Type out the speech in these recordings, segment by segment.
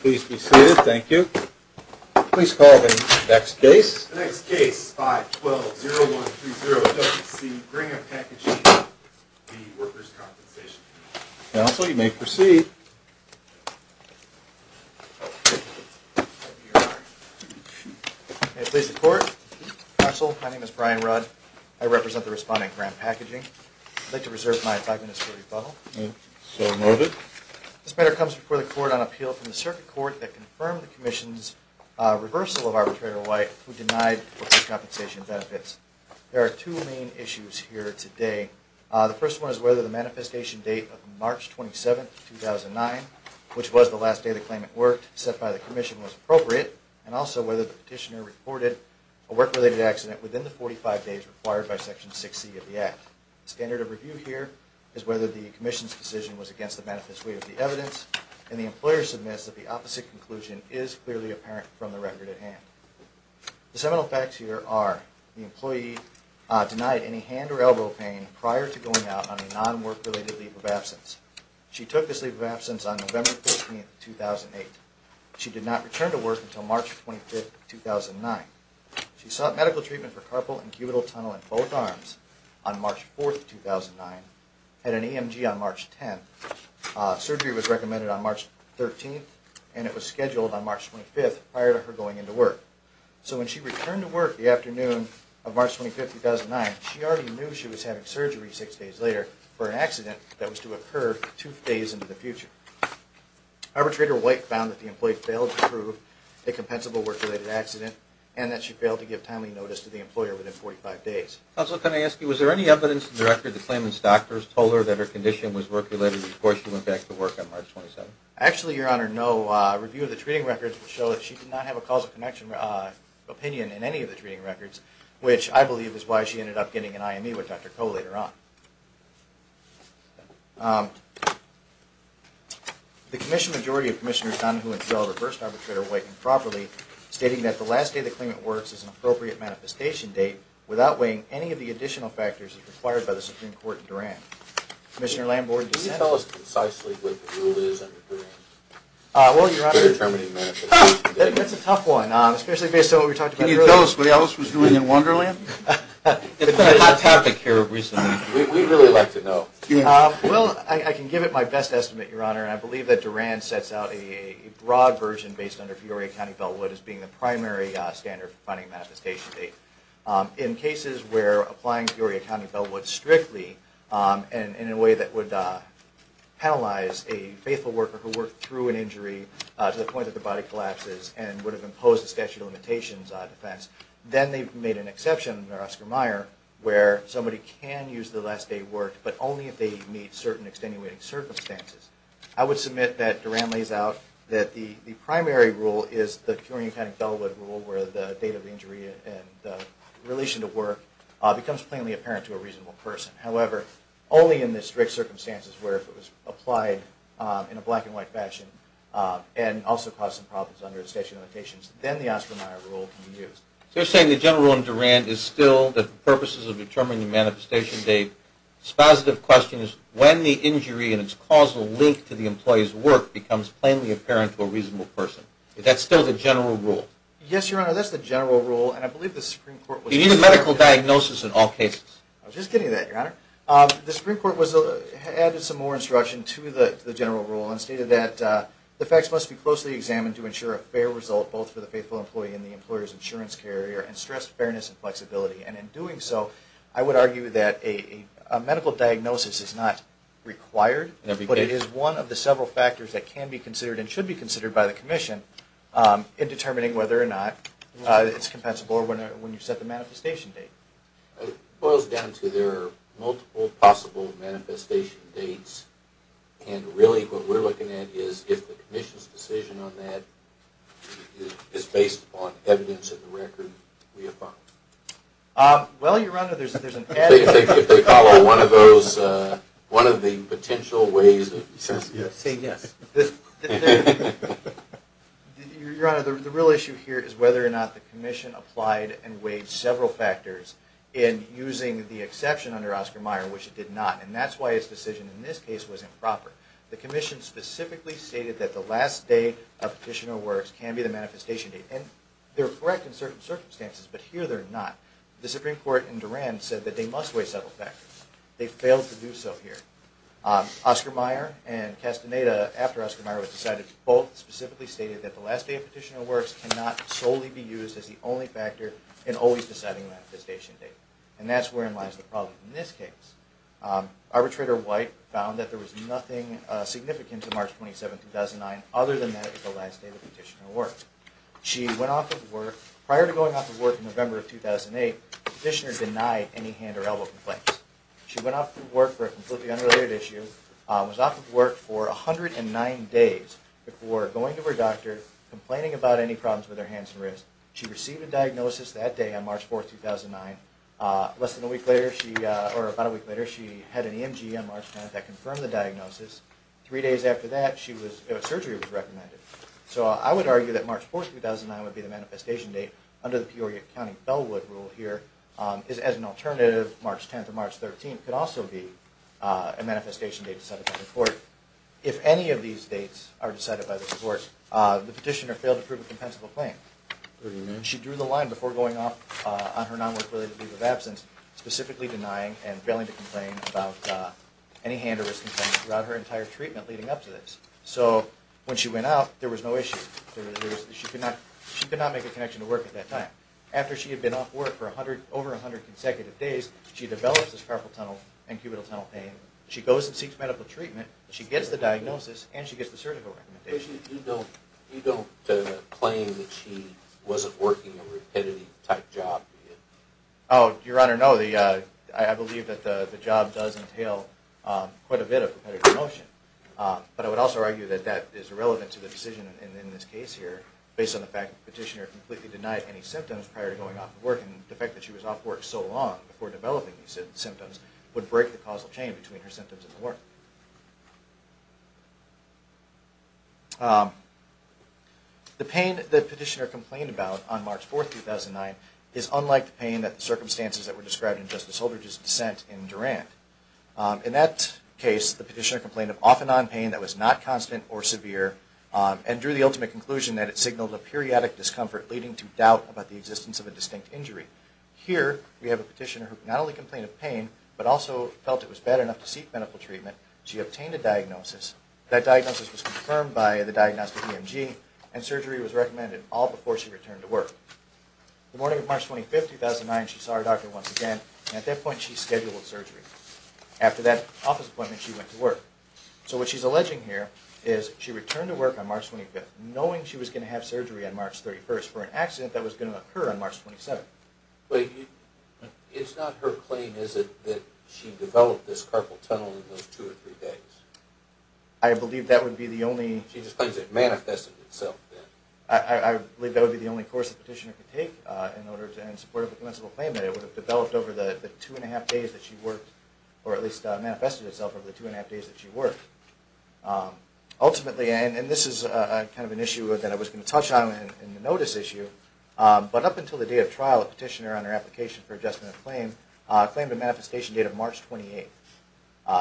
Please be seated. Thank you. Please call the next case. The next case, 512-0130-WC, Graham Packaging, Inc., v. Workers' Compensation Comm'n. Counsel, you may proceed. May it please the Court. Counsel, my name is Brian Rudd. I represent the respondent, Graham Packaging. I'd like to reserve my five minutes for rebuttal. So noted. This matter comes before the Court on appeal from the Circuit Court that confirmed the Commission's reversal of Arbitrator White, who denied workers' compensation benefits. There are two main issues here today. The first one is whether the manifestation date of March 27, 2009, which was the last day the claimant worked, set by the Commission, was appropriate, and also whether the petitioner reported a work-related accident within the 45 days required by Section 6C of the Act. The standard of review here is whether the Commission's decision was against the benefit's weight of the evidence, and the employer submits that the opposite conclusion is clearly apparent from the record at hand. The seminal facts here are the employee denied any hand or elbow pain prior to going out on a non-work-related leave of absence. She took this leave of absence on November 15, 2008. She did not return to work until March 25, 2009. She sought medical treatment for carpal and cubital tunnel in both arms on March 4, 2009, and an EMG on March 10. Surgery was recommended on March 13, and it was scheduled on March 25 prior to her going into work. So when she returned to work the afternoon of March 25, 2009, she already knew she was having surgery six days later for an accident that was to occur two days into the future. Arbitrator White found that the employee failed to prove a compensable work-related accident, and that she failed to give timely notice to the employer within 45 days. Counsel, can I ask you, was there any evidence in the record that the claimant's doctors told her that her condition was work-related before she went back to work on March 27? Actually, Your Honor, no. A review of the treating records would show that she did not have a causal connection opinion in any of the treating records, which I believe is why she ended up getting an IME with Dr. Koh later on. The commission majority of Commissioner Dunn, who installed a reverse arbitrator weighting properly, stating that the last day the claimant works is an appropriate manifestation date, without weighing any of the additional factors required by the Supreme Court in Duran. Commissioner Lambour, do you consent? Can you tell us concisely what the rule is under Duran? Well, Your Honor, that's a tough one, especially based on what we talked about earlier. Can you tell us what Elvis was doing in Wonderland? It's been a hot topic here recently. We'd really like to know. Well, I can give it my best estimate, Your Honor, and I believe that Duran sets out a broad version based under Peoria County Bellwood as being the primary standard for finding a manifestation date. In cases where applying Peoria County Bellwood strictly, and in a way that would penalize a faithful worker who worked through an injury to the point that their body collapses, and would have imposed a statute of limitations on a defense, then they've made an exception under Oscar Meyer where somebody can use the last day of work, but only if they meet certain extenuating circumstances. I would submit that Duran lays out that the primary rule is the Peoria County Bellwood rule, where the date of injury and the relation to work becomes plainly apparent to a reasonable person. However, only in the strict circumstances where it was applied in a black-and-white fashion and also caused some problems under the statute of limitations, then the Oscar Meyer rule can be used. So you're saying the general rule in Duran is still that the purposes of determining the manifestation date, it's positive questions when the injury and its causal link to the employee's work becomes plainly apparent to a reasonable person. That's still the general rule? Yes, Your Honor, that's the general rule, and I believe the Supreme Court was... You need a medical diagnosis in all cases. I was just getting to that, Your Honor. The Supreme Court added some more instruction to the general rule and stated that the facts must be closely examined to ensure a fair result both for the faithful employee and the employer's insurance carrier and stress fairness and flexibility. And in doing so, I would argue that a medical diagnosis is not required, but it is one of the several factors that can be considered and should be considered by the Commission in determining whether or not it's compensable when you set the manifestation date. It boils down to there are multiple possible manifestation dates, and really what we're looking at is if the Commission's decision on that is based upon evidence in the record we have found. Well, Your Honor, there's an added... If they follow one of those, one of the potential ways of... Say yes. Your Honor, the real issue here is whether or not the Commission applied and weighed several factors in using the exception under Oscar Mayer, which it did not, and that's why its decision in this case was improper. The Commission specifically stated that the last day a petitioner works can be the manifestation date, and they're correct in certain circumstances, but here they're not. The Supreme Court in Duran said that they must weigh several factors. They failed to do so here. Oscar Mayer and Castaneda, after Oscar Mayer was decided, both specifically stated that the last day a petitioner works cannot solely be used as the only factor in always deciding the manifestation date, and that's wherein lies the problem in this case. Arbitrator White found that there was nothing significant to March 27, 2009, other than that it was the last day the petitioner worked. She went off to work. Prior to going off to work in November of 2008, the petitioner denied any hand or elbow complaints. She went off to work for a completely unrelated issue, was off to work for 109 days before going to her doctor, complaining about any problems with her hands and wrists. She received a diagnosis that day on March 4, 2009. Less than a week later, or about a week later, she had an EMG on March 10 that confirmed the diagnosis. Three days after that, surgery was recommended. So I would argue that March 4, 2009 would be the manifestation date. Under the Peoria County Bellwood rule here, as an alternative, March 10 to March 13 could also be a manifestation date decided by the court. If any of these dates are decided by the court, the petitioner failed to prove a compensable claim. She drew the line before going off on her non-work-related leave of absence, specifically denying and failing to complain about any hand or wrist complaints throughout her entire treatment leading up to this. So when she went off, there was no issue. She could not make a connection to work at that time. After she had been off work for over 100 consecutive days, she develops this carpal tunnel and cubital tunnel pain, she goes and seeks medical treatment, she gets the diagnosis, and she gets the surgical recommendation. You don't claim that she wasn't working a repetitive type job? Oh, Your Honor, no. I believe that the job does entail quite a bit of repetitive motion. But I would also argue that that is irrelevant to the decision in this case here based on the fact that the petitioner completely denied any symptoms prior to going off to work, and the fact that she was off work so long before developing these symptoms would break the causal chain between her symptoms and work. The pain that the petitioner complained about on March 4, 2009, is unlike the pain that the circumstances that were described in Justice Holdridge's dissent in Durant. In that case, the petitioner complained of off-and-on pain that was not constant or severe, and drew the ultimate conclusion that it signaled a periodic discomfort leading to doubt about the existence of a distinct injury. Here, we have a petitioner who not only complained of pain, but also felt it was bad enough to seek medical treatment. She obtained a diagnosis. That diagnosis was confirmed by the diagnostic EMG, and surgery was recommended all before she returned to work. The morning of March 25, 2009, she saw her doctor once again, and at that point she scheduled surgery. After that office appointment, she went to work. So what she's alleging here is she returned to work on March 25, knowing she was going to have surgery on March 31 for an accident that was going to occur on March 27. But it's not her claim, is it, that she developed this carpal tunnel in those two or three days? I believe that would be the only... She just claims it manifested itself then. I believe that would be the only course the petitioner could take in order to end support of the commensal claim that it would have developed over the two and a half days that she worked, or at least manifested itself over the two and a half days that she worked. Ultimately, and this is kind of an issue that I was going to touch on in the notice issue, but up until the day of trial, a petitioner on her application for adjustment of claim claimed a manifestation date of March 28.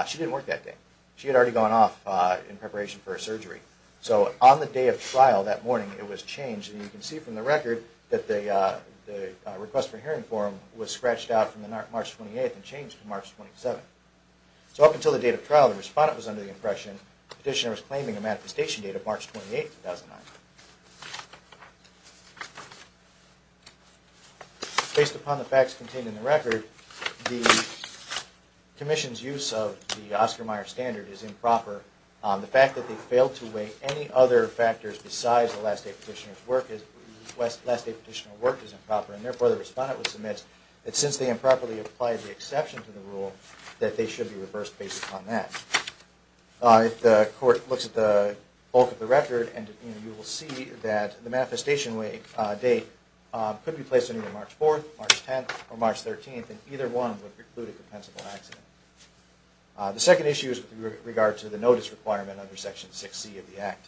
She didn't work that day. She had already gone off in preparation for her surgery. So on the day of trial that morning, it was changed, and you can see from the record that the request for hearing form was scratched out from March 28 and changed to March 27. So up until the day of trial, the respondent was under the impression the petitioner was claiming a manifestation date of March 28, 2009. Based upon the facts contained in the record, the commission's use of the Oscar Mayer standard is improper. The fact that they failed to weigh any other factors besides the last day petitioner's work is improper, and therefore the respondent would submit that since they improperly applied the exception to the rule, that they should be reversed based upon that. If the court looks at the bulk of the record, you will see that the manifestation date could be placed on either March 4th, March 10th, or March 13th, and either one would preclude a compensable accident. The second issue is with regard to the notice requirement under Section 6C of the Act.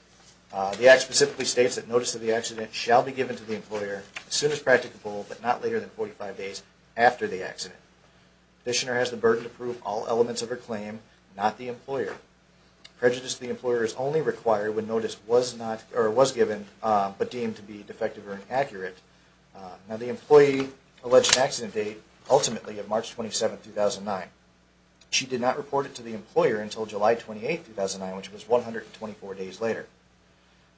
The Act specifically states that notice of the accident shall be given to the employer as soon as practicable, but not later than 45 days after the accident. not the employer. Prejudice to the employer is only required when notice was given, but deemed to be defective or inaccurate. The employee alleged accident date ultimately is March 27, 2009. She did not report it to the employer until July 28, 2009, which was 124 days later.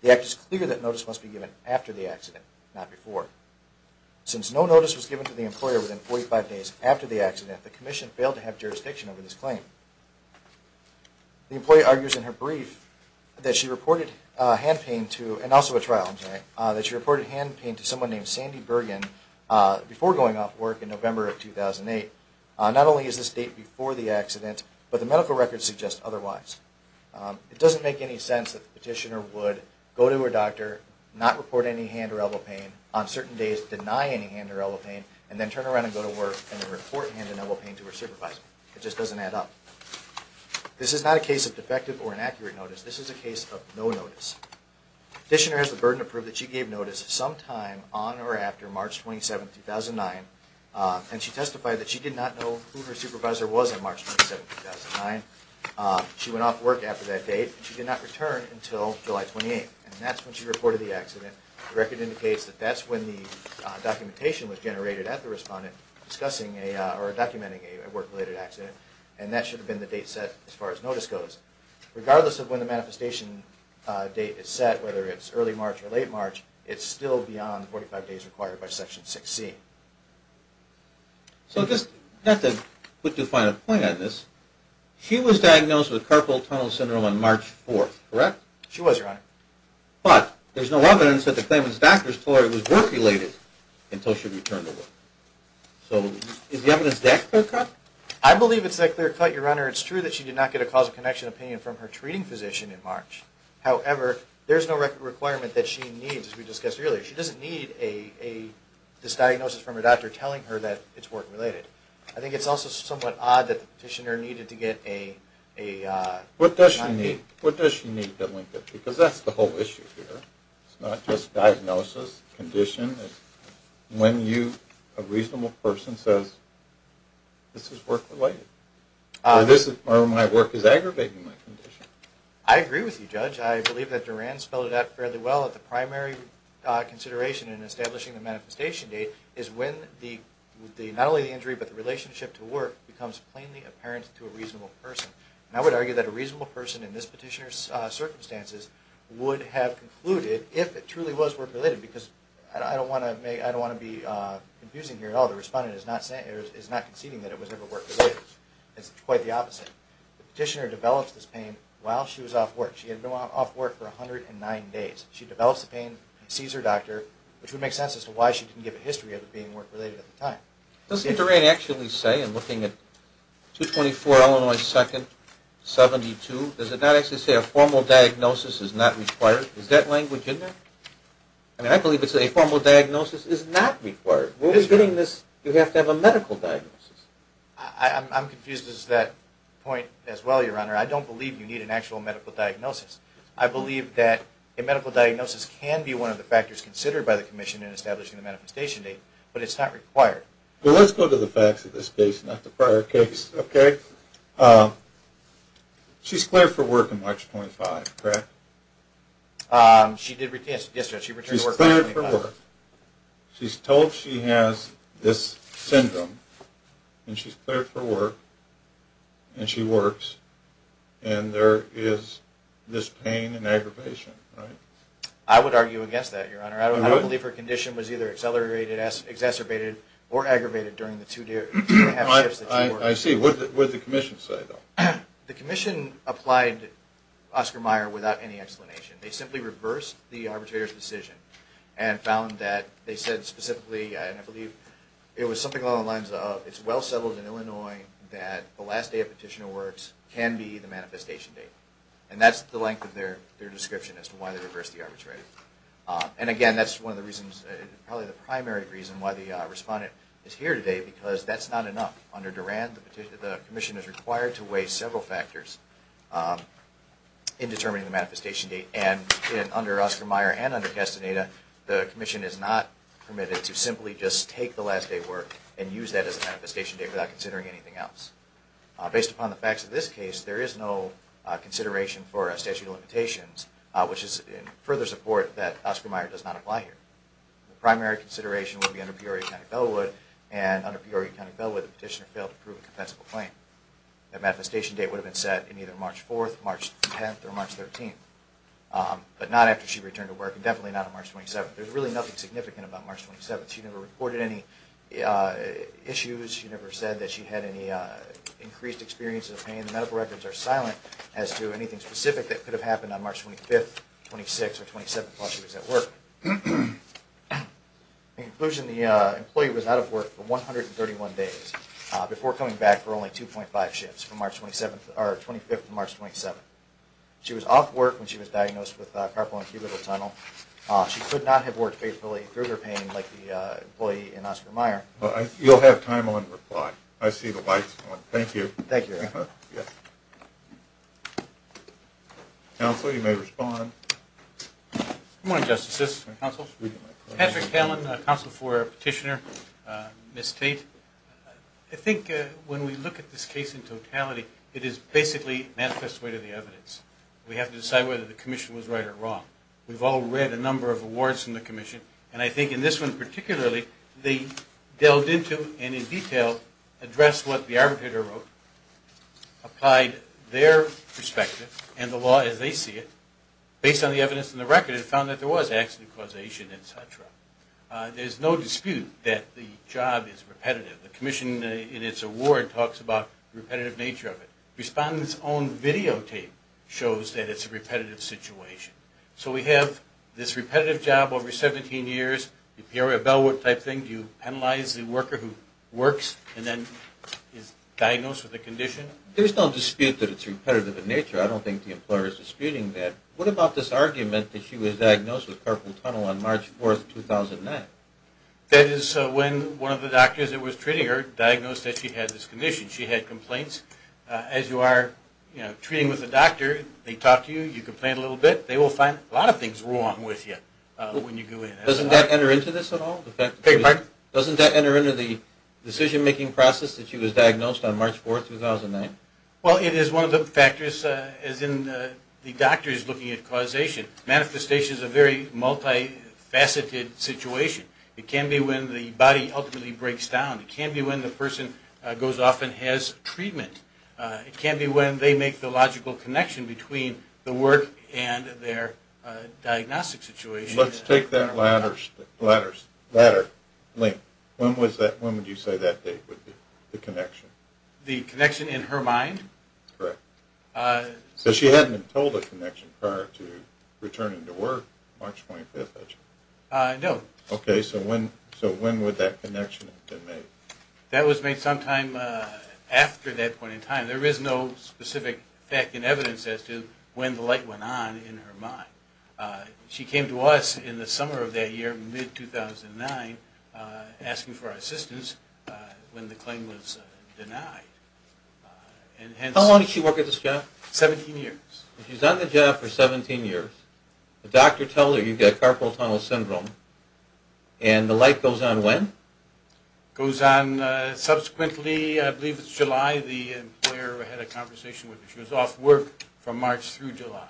The Act is clear that notice must be given after the accident, not before. Since no notice was given to the employer within 45 days after the accident, the commission failed to have jurisdiction over this claim. The employee argues in her brief that she reported hand pain to, and also a trial, I'm sorry, that she reported hand pain to someone named Sandy Bergen before going off work in November of 2008. Not only is this date before the accident, but the medical records suggest otherwise. It doesn't make any sense that the petitioner would go to her doctor, not report any hand or elbow pain, on certain days deny any hand or elbow pain, and then turn around and go to work and report hand and elbow pain to her supervisor. It just doesn't add up. This is not a case of defective or inaccurate notice. This is a case of no notice. The petitioner has the burden to prove that she gave notice sometime on or after March 27, 2009, and she testified that she did not know who her supervisor was on March 27, 2009. She went off work after that date, and she did not return until July 28, and that's when she reported the accident. The record indicates that that's when the documentation was generated at the respondent discussing or documenting a work-related accident, and that should have been the date set as far as notice goes. Regardless of when the manifestation date is set, whether it's early March or late March, it's still beyond the 45 days required by Section 6C. So just to put the final point on this, she was diagnosed with carpal tunnel syndrome on March 4, correct? She was, Your Honor. But there's no evidence that the claimant's doctor told her it was work-related until she returned to work. So is the evidence that clear-cut? I believe it's a clear-cut, Your Honor. It's true that she did not get a cause of connection opinion from her treating physician in March. However, there's no record requirement that she needs, as we discussed earlier. She doesn't need this diagnosis from her doctor telling her that it's work-related. I think it's also somewhat odd that the petitioner needed to get a... What does she need to link it? Because that's the whole issue here. It's not just diagnosis, condition. When you, a reasonable person, says this is work-related or my work is aggravating my condition. I agree with you, Judge. I believe that Duran spelled it out fairly well that the primary consideration in establishing the manifestation date is when not only the injury but the relationship to work becomes plainly apparent to a reasonable person. And I would argue that a reasonable person in this petitioner's circumstances would have concluded if it truly was work-related because I don't want to be confusing here at all. The respondent is not conceding that it was ever work-related. It's quite the opposite. The petitioner develops this pain while she was off work. She had been off work for 109 days. She develops the pain, sees her doctor, which would make sense as to why she didn't give a history of it being work-related at the time. Doesn't Duran actually say in looking at 224 Illinois 2nd, 72, does it not actually say a formal diagnosis is not required? Is that language in there? I mean, I believe it's a formal diagnosis is not required. When we're getting this, you have to have a medical diagnosis. I'm confused as to that point as well, Your Honor. I don't believe you need an actual medical diagnosis. I believe that a medical diagnosis can be one of the factors considered by the commission in establishing the manifestation date, but it's not required. Well, let's go to the facts of this case, not the prior case, okay? She's cleared for work on March 25, correct? Yes, Judge, she returned to work on March 25. She's cleared for work. She's told she has this syndrome, and she's cleared for work, and she works, and there is this pain and aggravation, right? I would argue against that, Your Honor. I don't believe her condition was either accelerated, exacerbated, or aggravated during the two shifts that she worked. I see. What did the commission say, though? The commission applied Oscar Meyer without any explanation. They simply reversed the arbitrator's decision and found that they said specifically, and I believe it was something along the lines of, it's well settled in Illinois that the last day a petitioner works can be the manifestation date. And that's the length of their description as to why they reversed the arbitrator. And, again, that's one of the reasons, probably the primary reason why the respondent is here today because that's not enough. Under Duran, the commission is required to weigh several factors in determining the manifestation date, and under Oscar Meyer and under Castaneda, the commission is not permitted to simply just take the last day of work and use that as a manifestation date without considering anything else. Based upon the facts of this case, there is no consideration for statute of limitations, which is in further support that Oscar Meyer does not apply here. The primary consideration would be under Peoria County Bellwood, and under Peoria County Bellwood, the petitioner failed to prove a compensable claim. That manifestation date would have been set in either March 4th, March 10th, or March 13th, but not after she returned to work, and definitely not on March 27th. There's really nothing significant about March 27th. She never reported any issues. She never said that she had any increased experiences of pain. The medical records are silent as to anything specific that could have happened on March 25th, 26th, or 27th while she was at work. In conclusion, the employee was out of work for 131 days before coming back for only 2.5 shifts from March 25th to March 27th. She was off work when she was diagnosed with carpal incubator tunnel. She could not have worked faithfully through her pain like the employee in Oscar Meyer. You'll have time on reply. I see the lights on. Thank you. Thank you. Counsel, you may respond. Good morning, Justices and Counsel. Patrick Talen, Counsel for Petitioner. Ms. Tate. I think when we look at this case in totality, it is basically manifest way to the evidence. We have to decide whether the commission was right or wrong. We've all read a number of awards from the commission, and I think in this one particularly, they delved into and in detail addressed what the arbitrator wrote, applied their perspective and the law as they see it, based on the evidence in the record, and found that there was accident causation, etc. There's no dispute that the job is repetitive. The commission in its award talks about the repetitive nature of it. Respondents' own videotape shows that it's a repetitive situation. So we have this repetitive job over 17 years, you hear a bellwork type thing, you penalize the worker who works and then is diagnosed with a condition. There's no dispute that it's repetitive in nature. I don't think the employer is disputing that. What about this argument that she was diagnosed with carpal tunnel on March 4, 2009? That is when one of the doctors that was treating her diagnosed that she had this condition. She had complaints. As you are treating with a doctor, they talk to you, you complain a little bit, they will find a lot of things wrong with you when you go in. Doesn't that enter into this at all? Doesn't that enter into the decision-making process that she was diagnosed on March 4, 2009? Well, it is one of the factors, as in the doctors looking at causation. Manifestation is a very multifaceted situation. It can be when the body ultimately breaks down. It can be when the person goes off and has treatment. It can be when they make the logical connection between the work and their diagnostic situation. Let's take that latter link. When would you say that date would be, the connection? The connection in her mind? Correct. So she hadn't been told the connection prior to returning to work, March 25th, I assume? No. Okay, so when would that connection have been made? That was made sometime after that point in time. There is no specific fact and evidence as to when the light went on in her mind. She came to us in the summer of that year, mid-2009, asking for our assistance when the claim was denied. How long did she work at this job? 17 years. She's done the job for 17 years. The doctor tells her you've got carpal tunnel syndrome, and the light goes on when? It goes on subsequently. I believe it's July. The employer had a conversation with her. She was off work from March through July.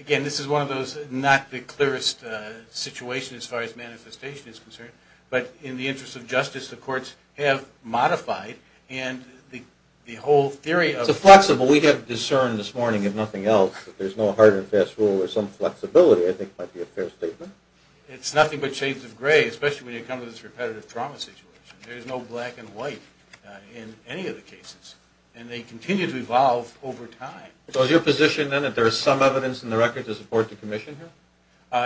Again, this is one of those not the clearest situations as far as manifestation is concerned. But in the interest of justice, the courts have modified, and the whole theory of it. It's a flexible. We have discerned this morning, if nothing else, that there's no hard and fast rule or some flexibility, I think, might be a fair statement. It's nothing but shades of gray, There's no black and white in any of the cases. And they continue to evolve over time. So is your position, then, that there is some evidence in the record to support the commission here?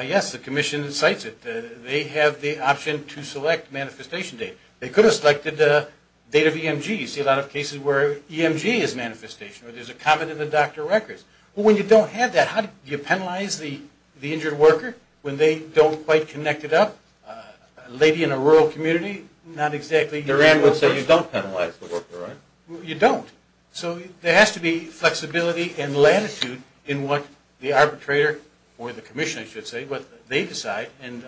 Yes, the commission cites it. They have the option to select manifestation date. They could have selected the date of EMG. You see a lot of cases where EMG is manifestation, or there's a comment in the doctor records. When you don't have that, how do you penalize the injured worker when they don't quite connect it up? A lady in a rural community, not exactly. Duran would say you don't penalize the worker, right? You don't. So there has to be flexibility and latitude in what the arbitrator, or the commission, I should say, what they decide, and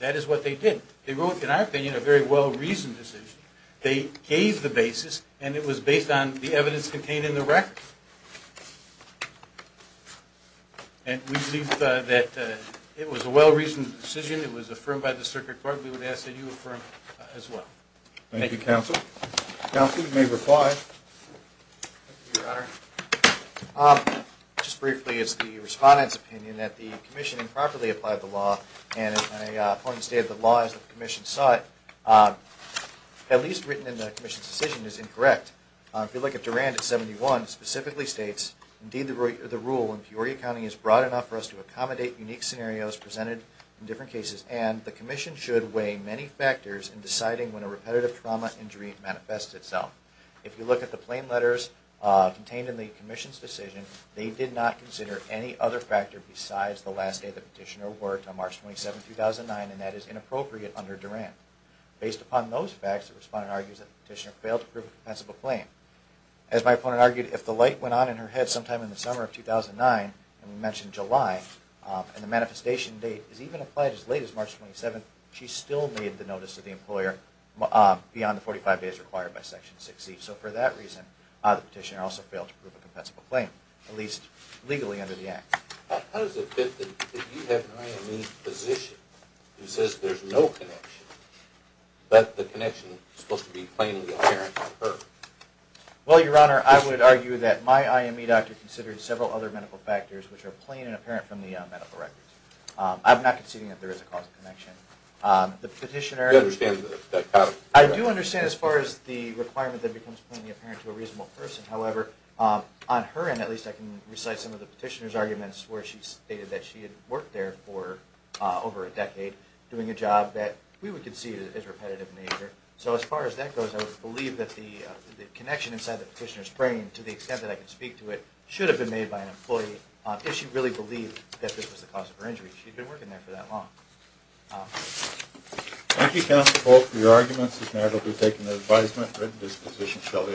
that is what they did. They wrote, in our opinion, a very well-reasoned decision. They gave the basis, and it was based on the evidence contained in the record. And we believe that it was a well-reasoned decision. It was affirmed by the circuit court. So we would ask that you affirm it as well. Thank you, counsel. Counsel, you may reply. Thank you, Your Honor. Just briefly, it's the respondent's opinion that the commission improperly applied the law, and my point of the state of the law is that the commission saw it, at least written in the commission's decision, as incorrect. If you look at Duran at 71, it specifically states, indeed the rule in Peoria County is broad enough for us to accommodate unique scenarios presented in different cases, and the commission should weigh many factors in deciding when a repetitive trauma injury manifests itself. If you look at the claim letters contained in the commission's decision, they did not consider any other factor besides the last day the petitioner worked on March 27, 2009, and that is inappropriate under Duran. Based upon those facts, the respondent argues that the petitioner failed to prove a defensible claim. As my opponent argued, if the light went on in her head sometime in the summer of 2009, and we mentioned July, and the manifestation date is even applied as late as March 27, she still made the notice to the employer beyond the 45 days required by Section 6C. So for that reason, the petitioner also failed to prove a defensible claim, at least legally under the Act. How does it fit that you have an IME physician who says there's no connection, but the connection is supposed to be plainly apparent on her? Well, Your Honor, I would argue that my IME doctor considered several other medical factors which are plain and apparent from the medical records. I'm not conceding that there is a causal connection. Do you understand that pattern? I do understand as far as the requirement that it becomes plainly apparent to a reasonable person. However, on her end, at least, I can recite some of the petitioner's arguments where she stated that she had worked there for over a decade doing a job that we would concede is repetitive in nature. So as far as that goes, I would believe that the connection inside the petitioner's brain, to the extent that I can speak to it, should have been made by an employee if she really believed that this was the cause of her injury. She'd been working there for that long. Thank you, Counsel Polk, for your arguments. This matter will be taken into advisement. The written disposition shall issue.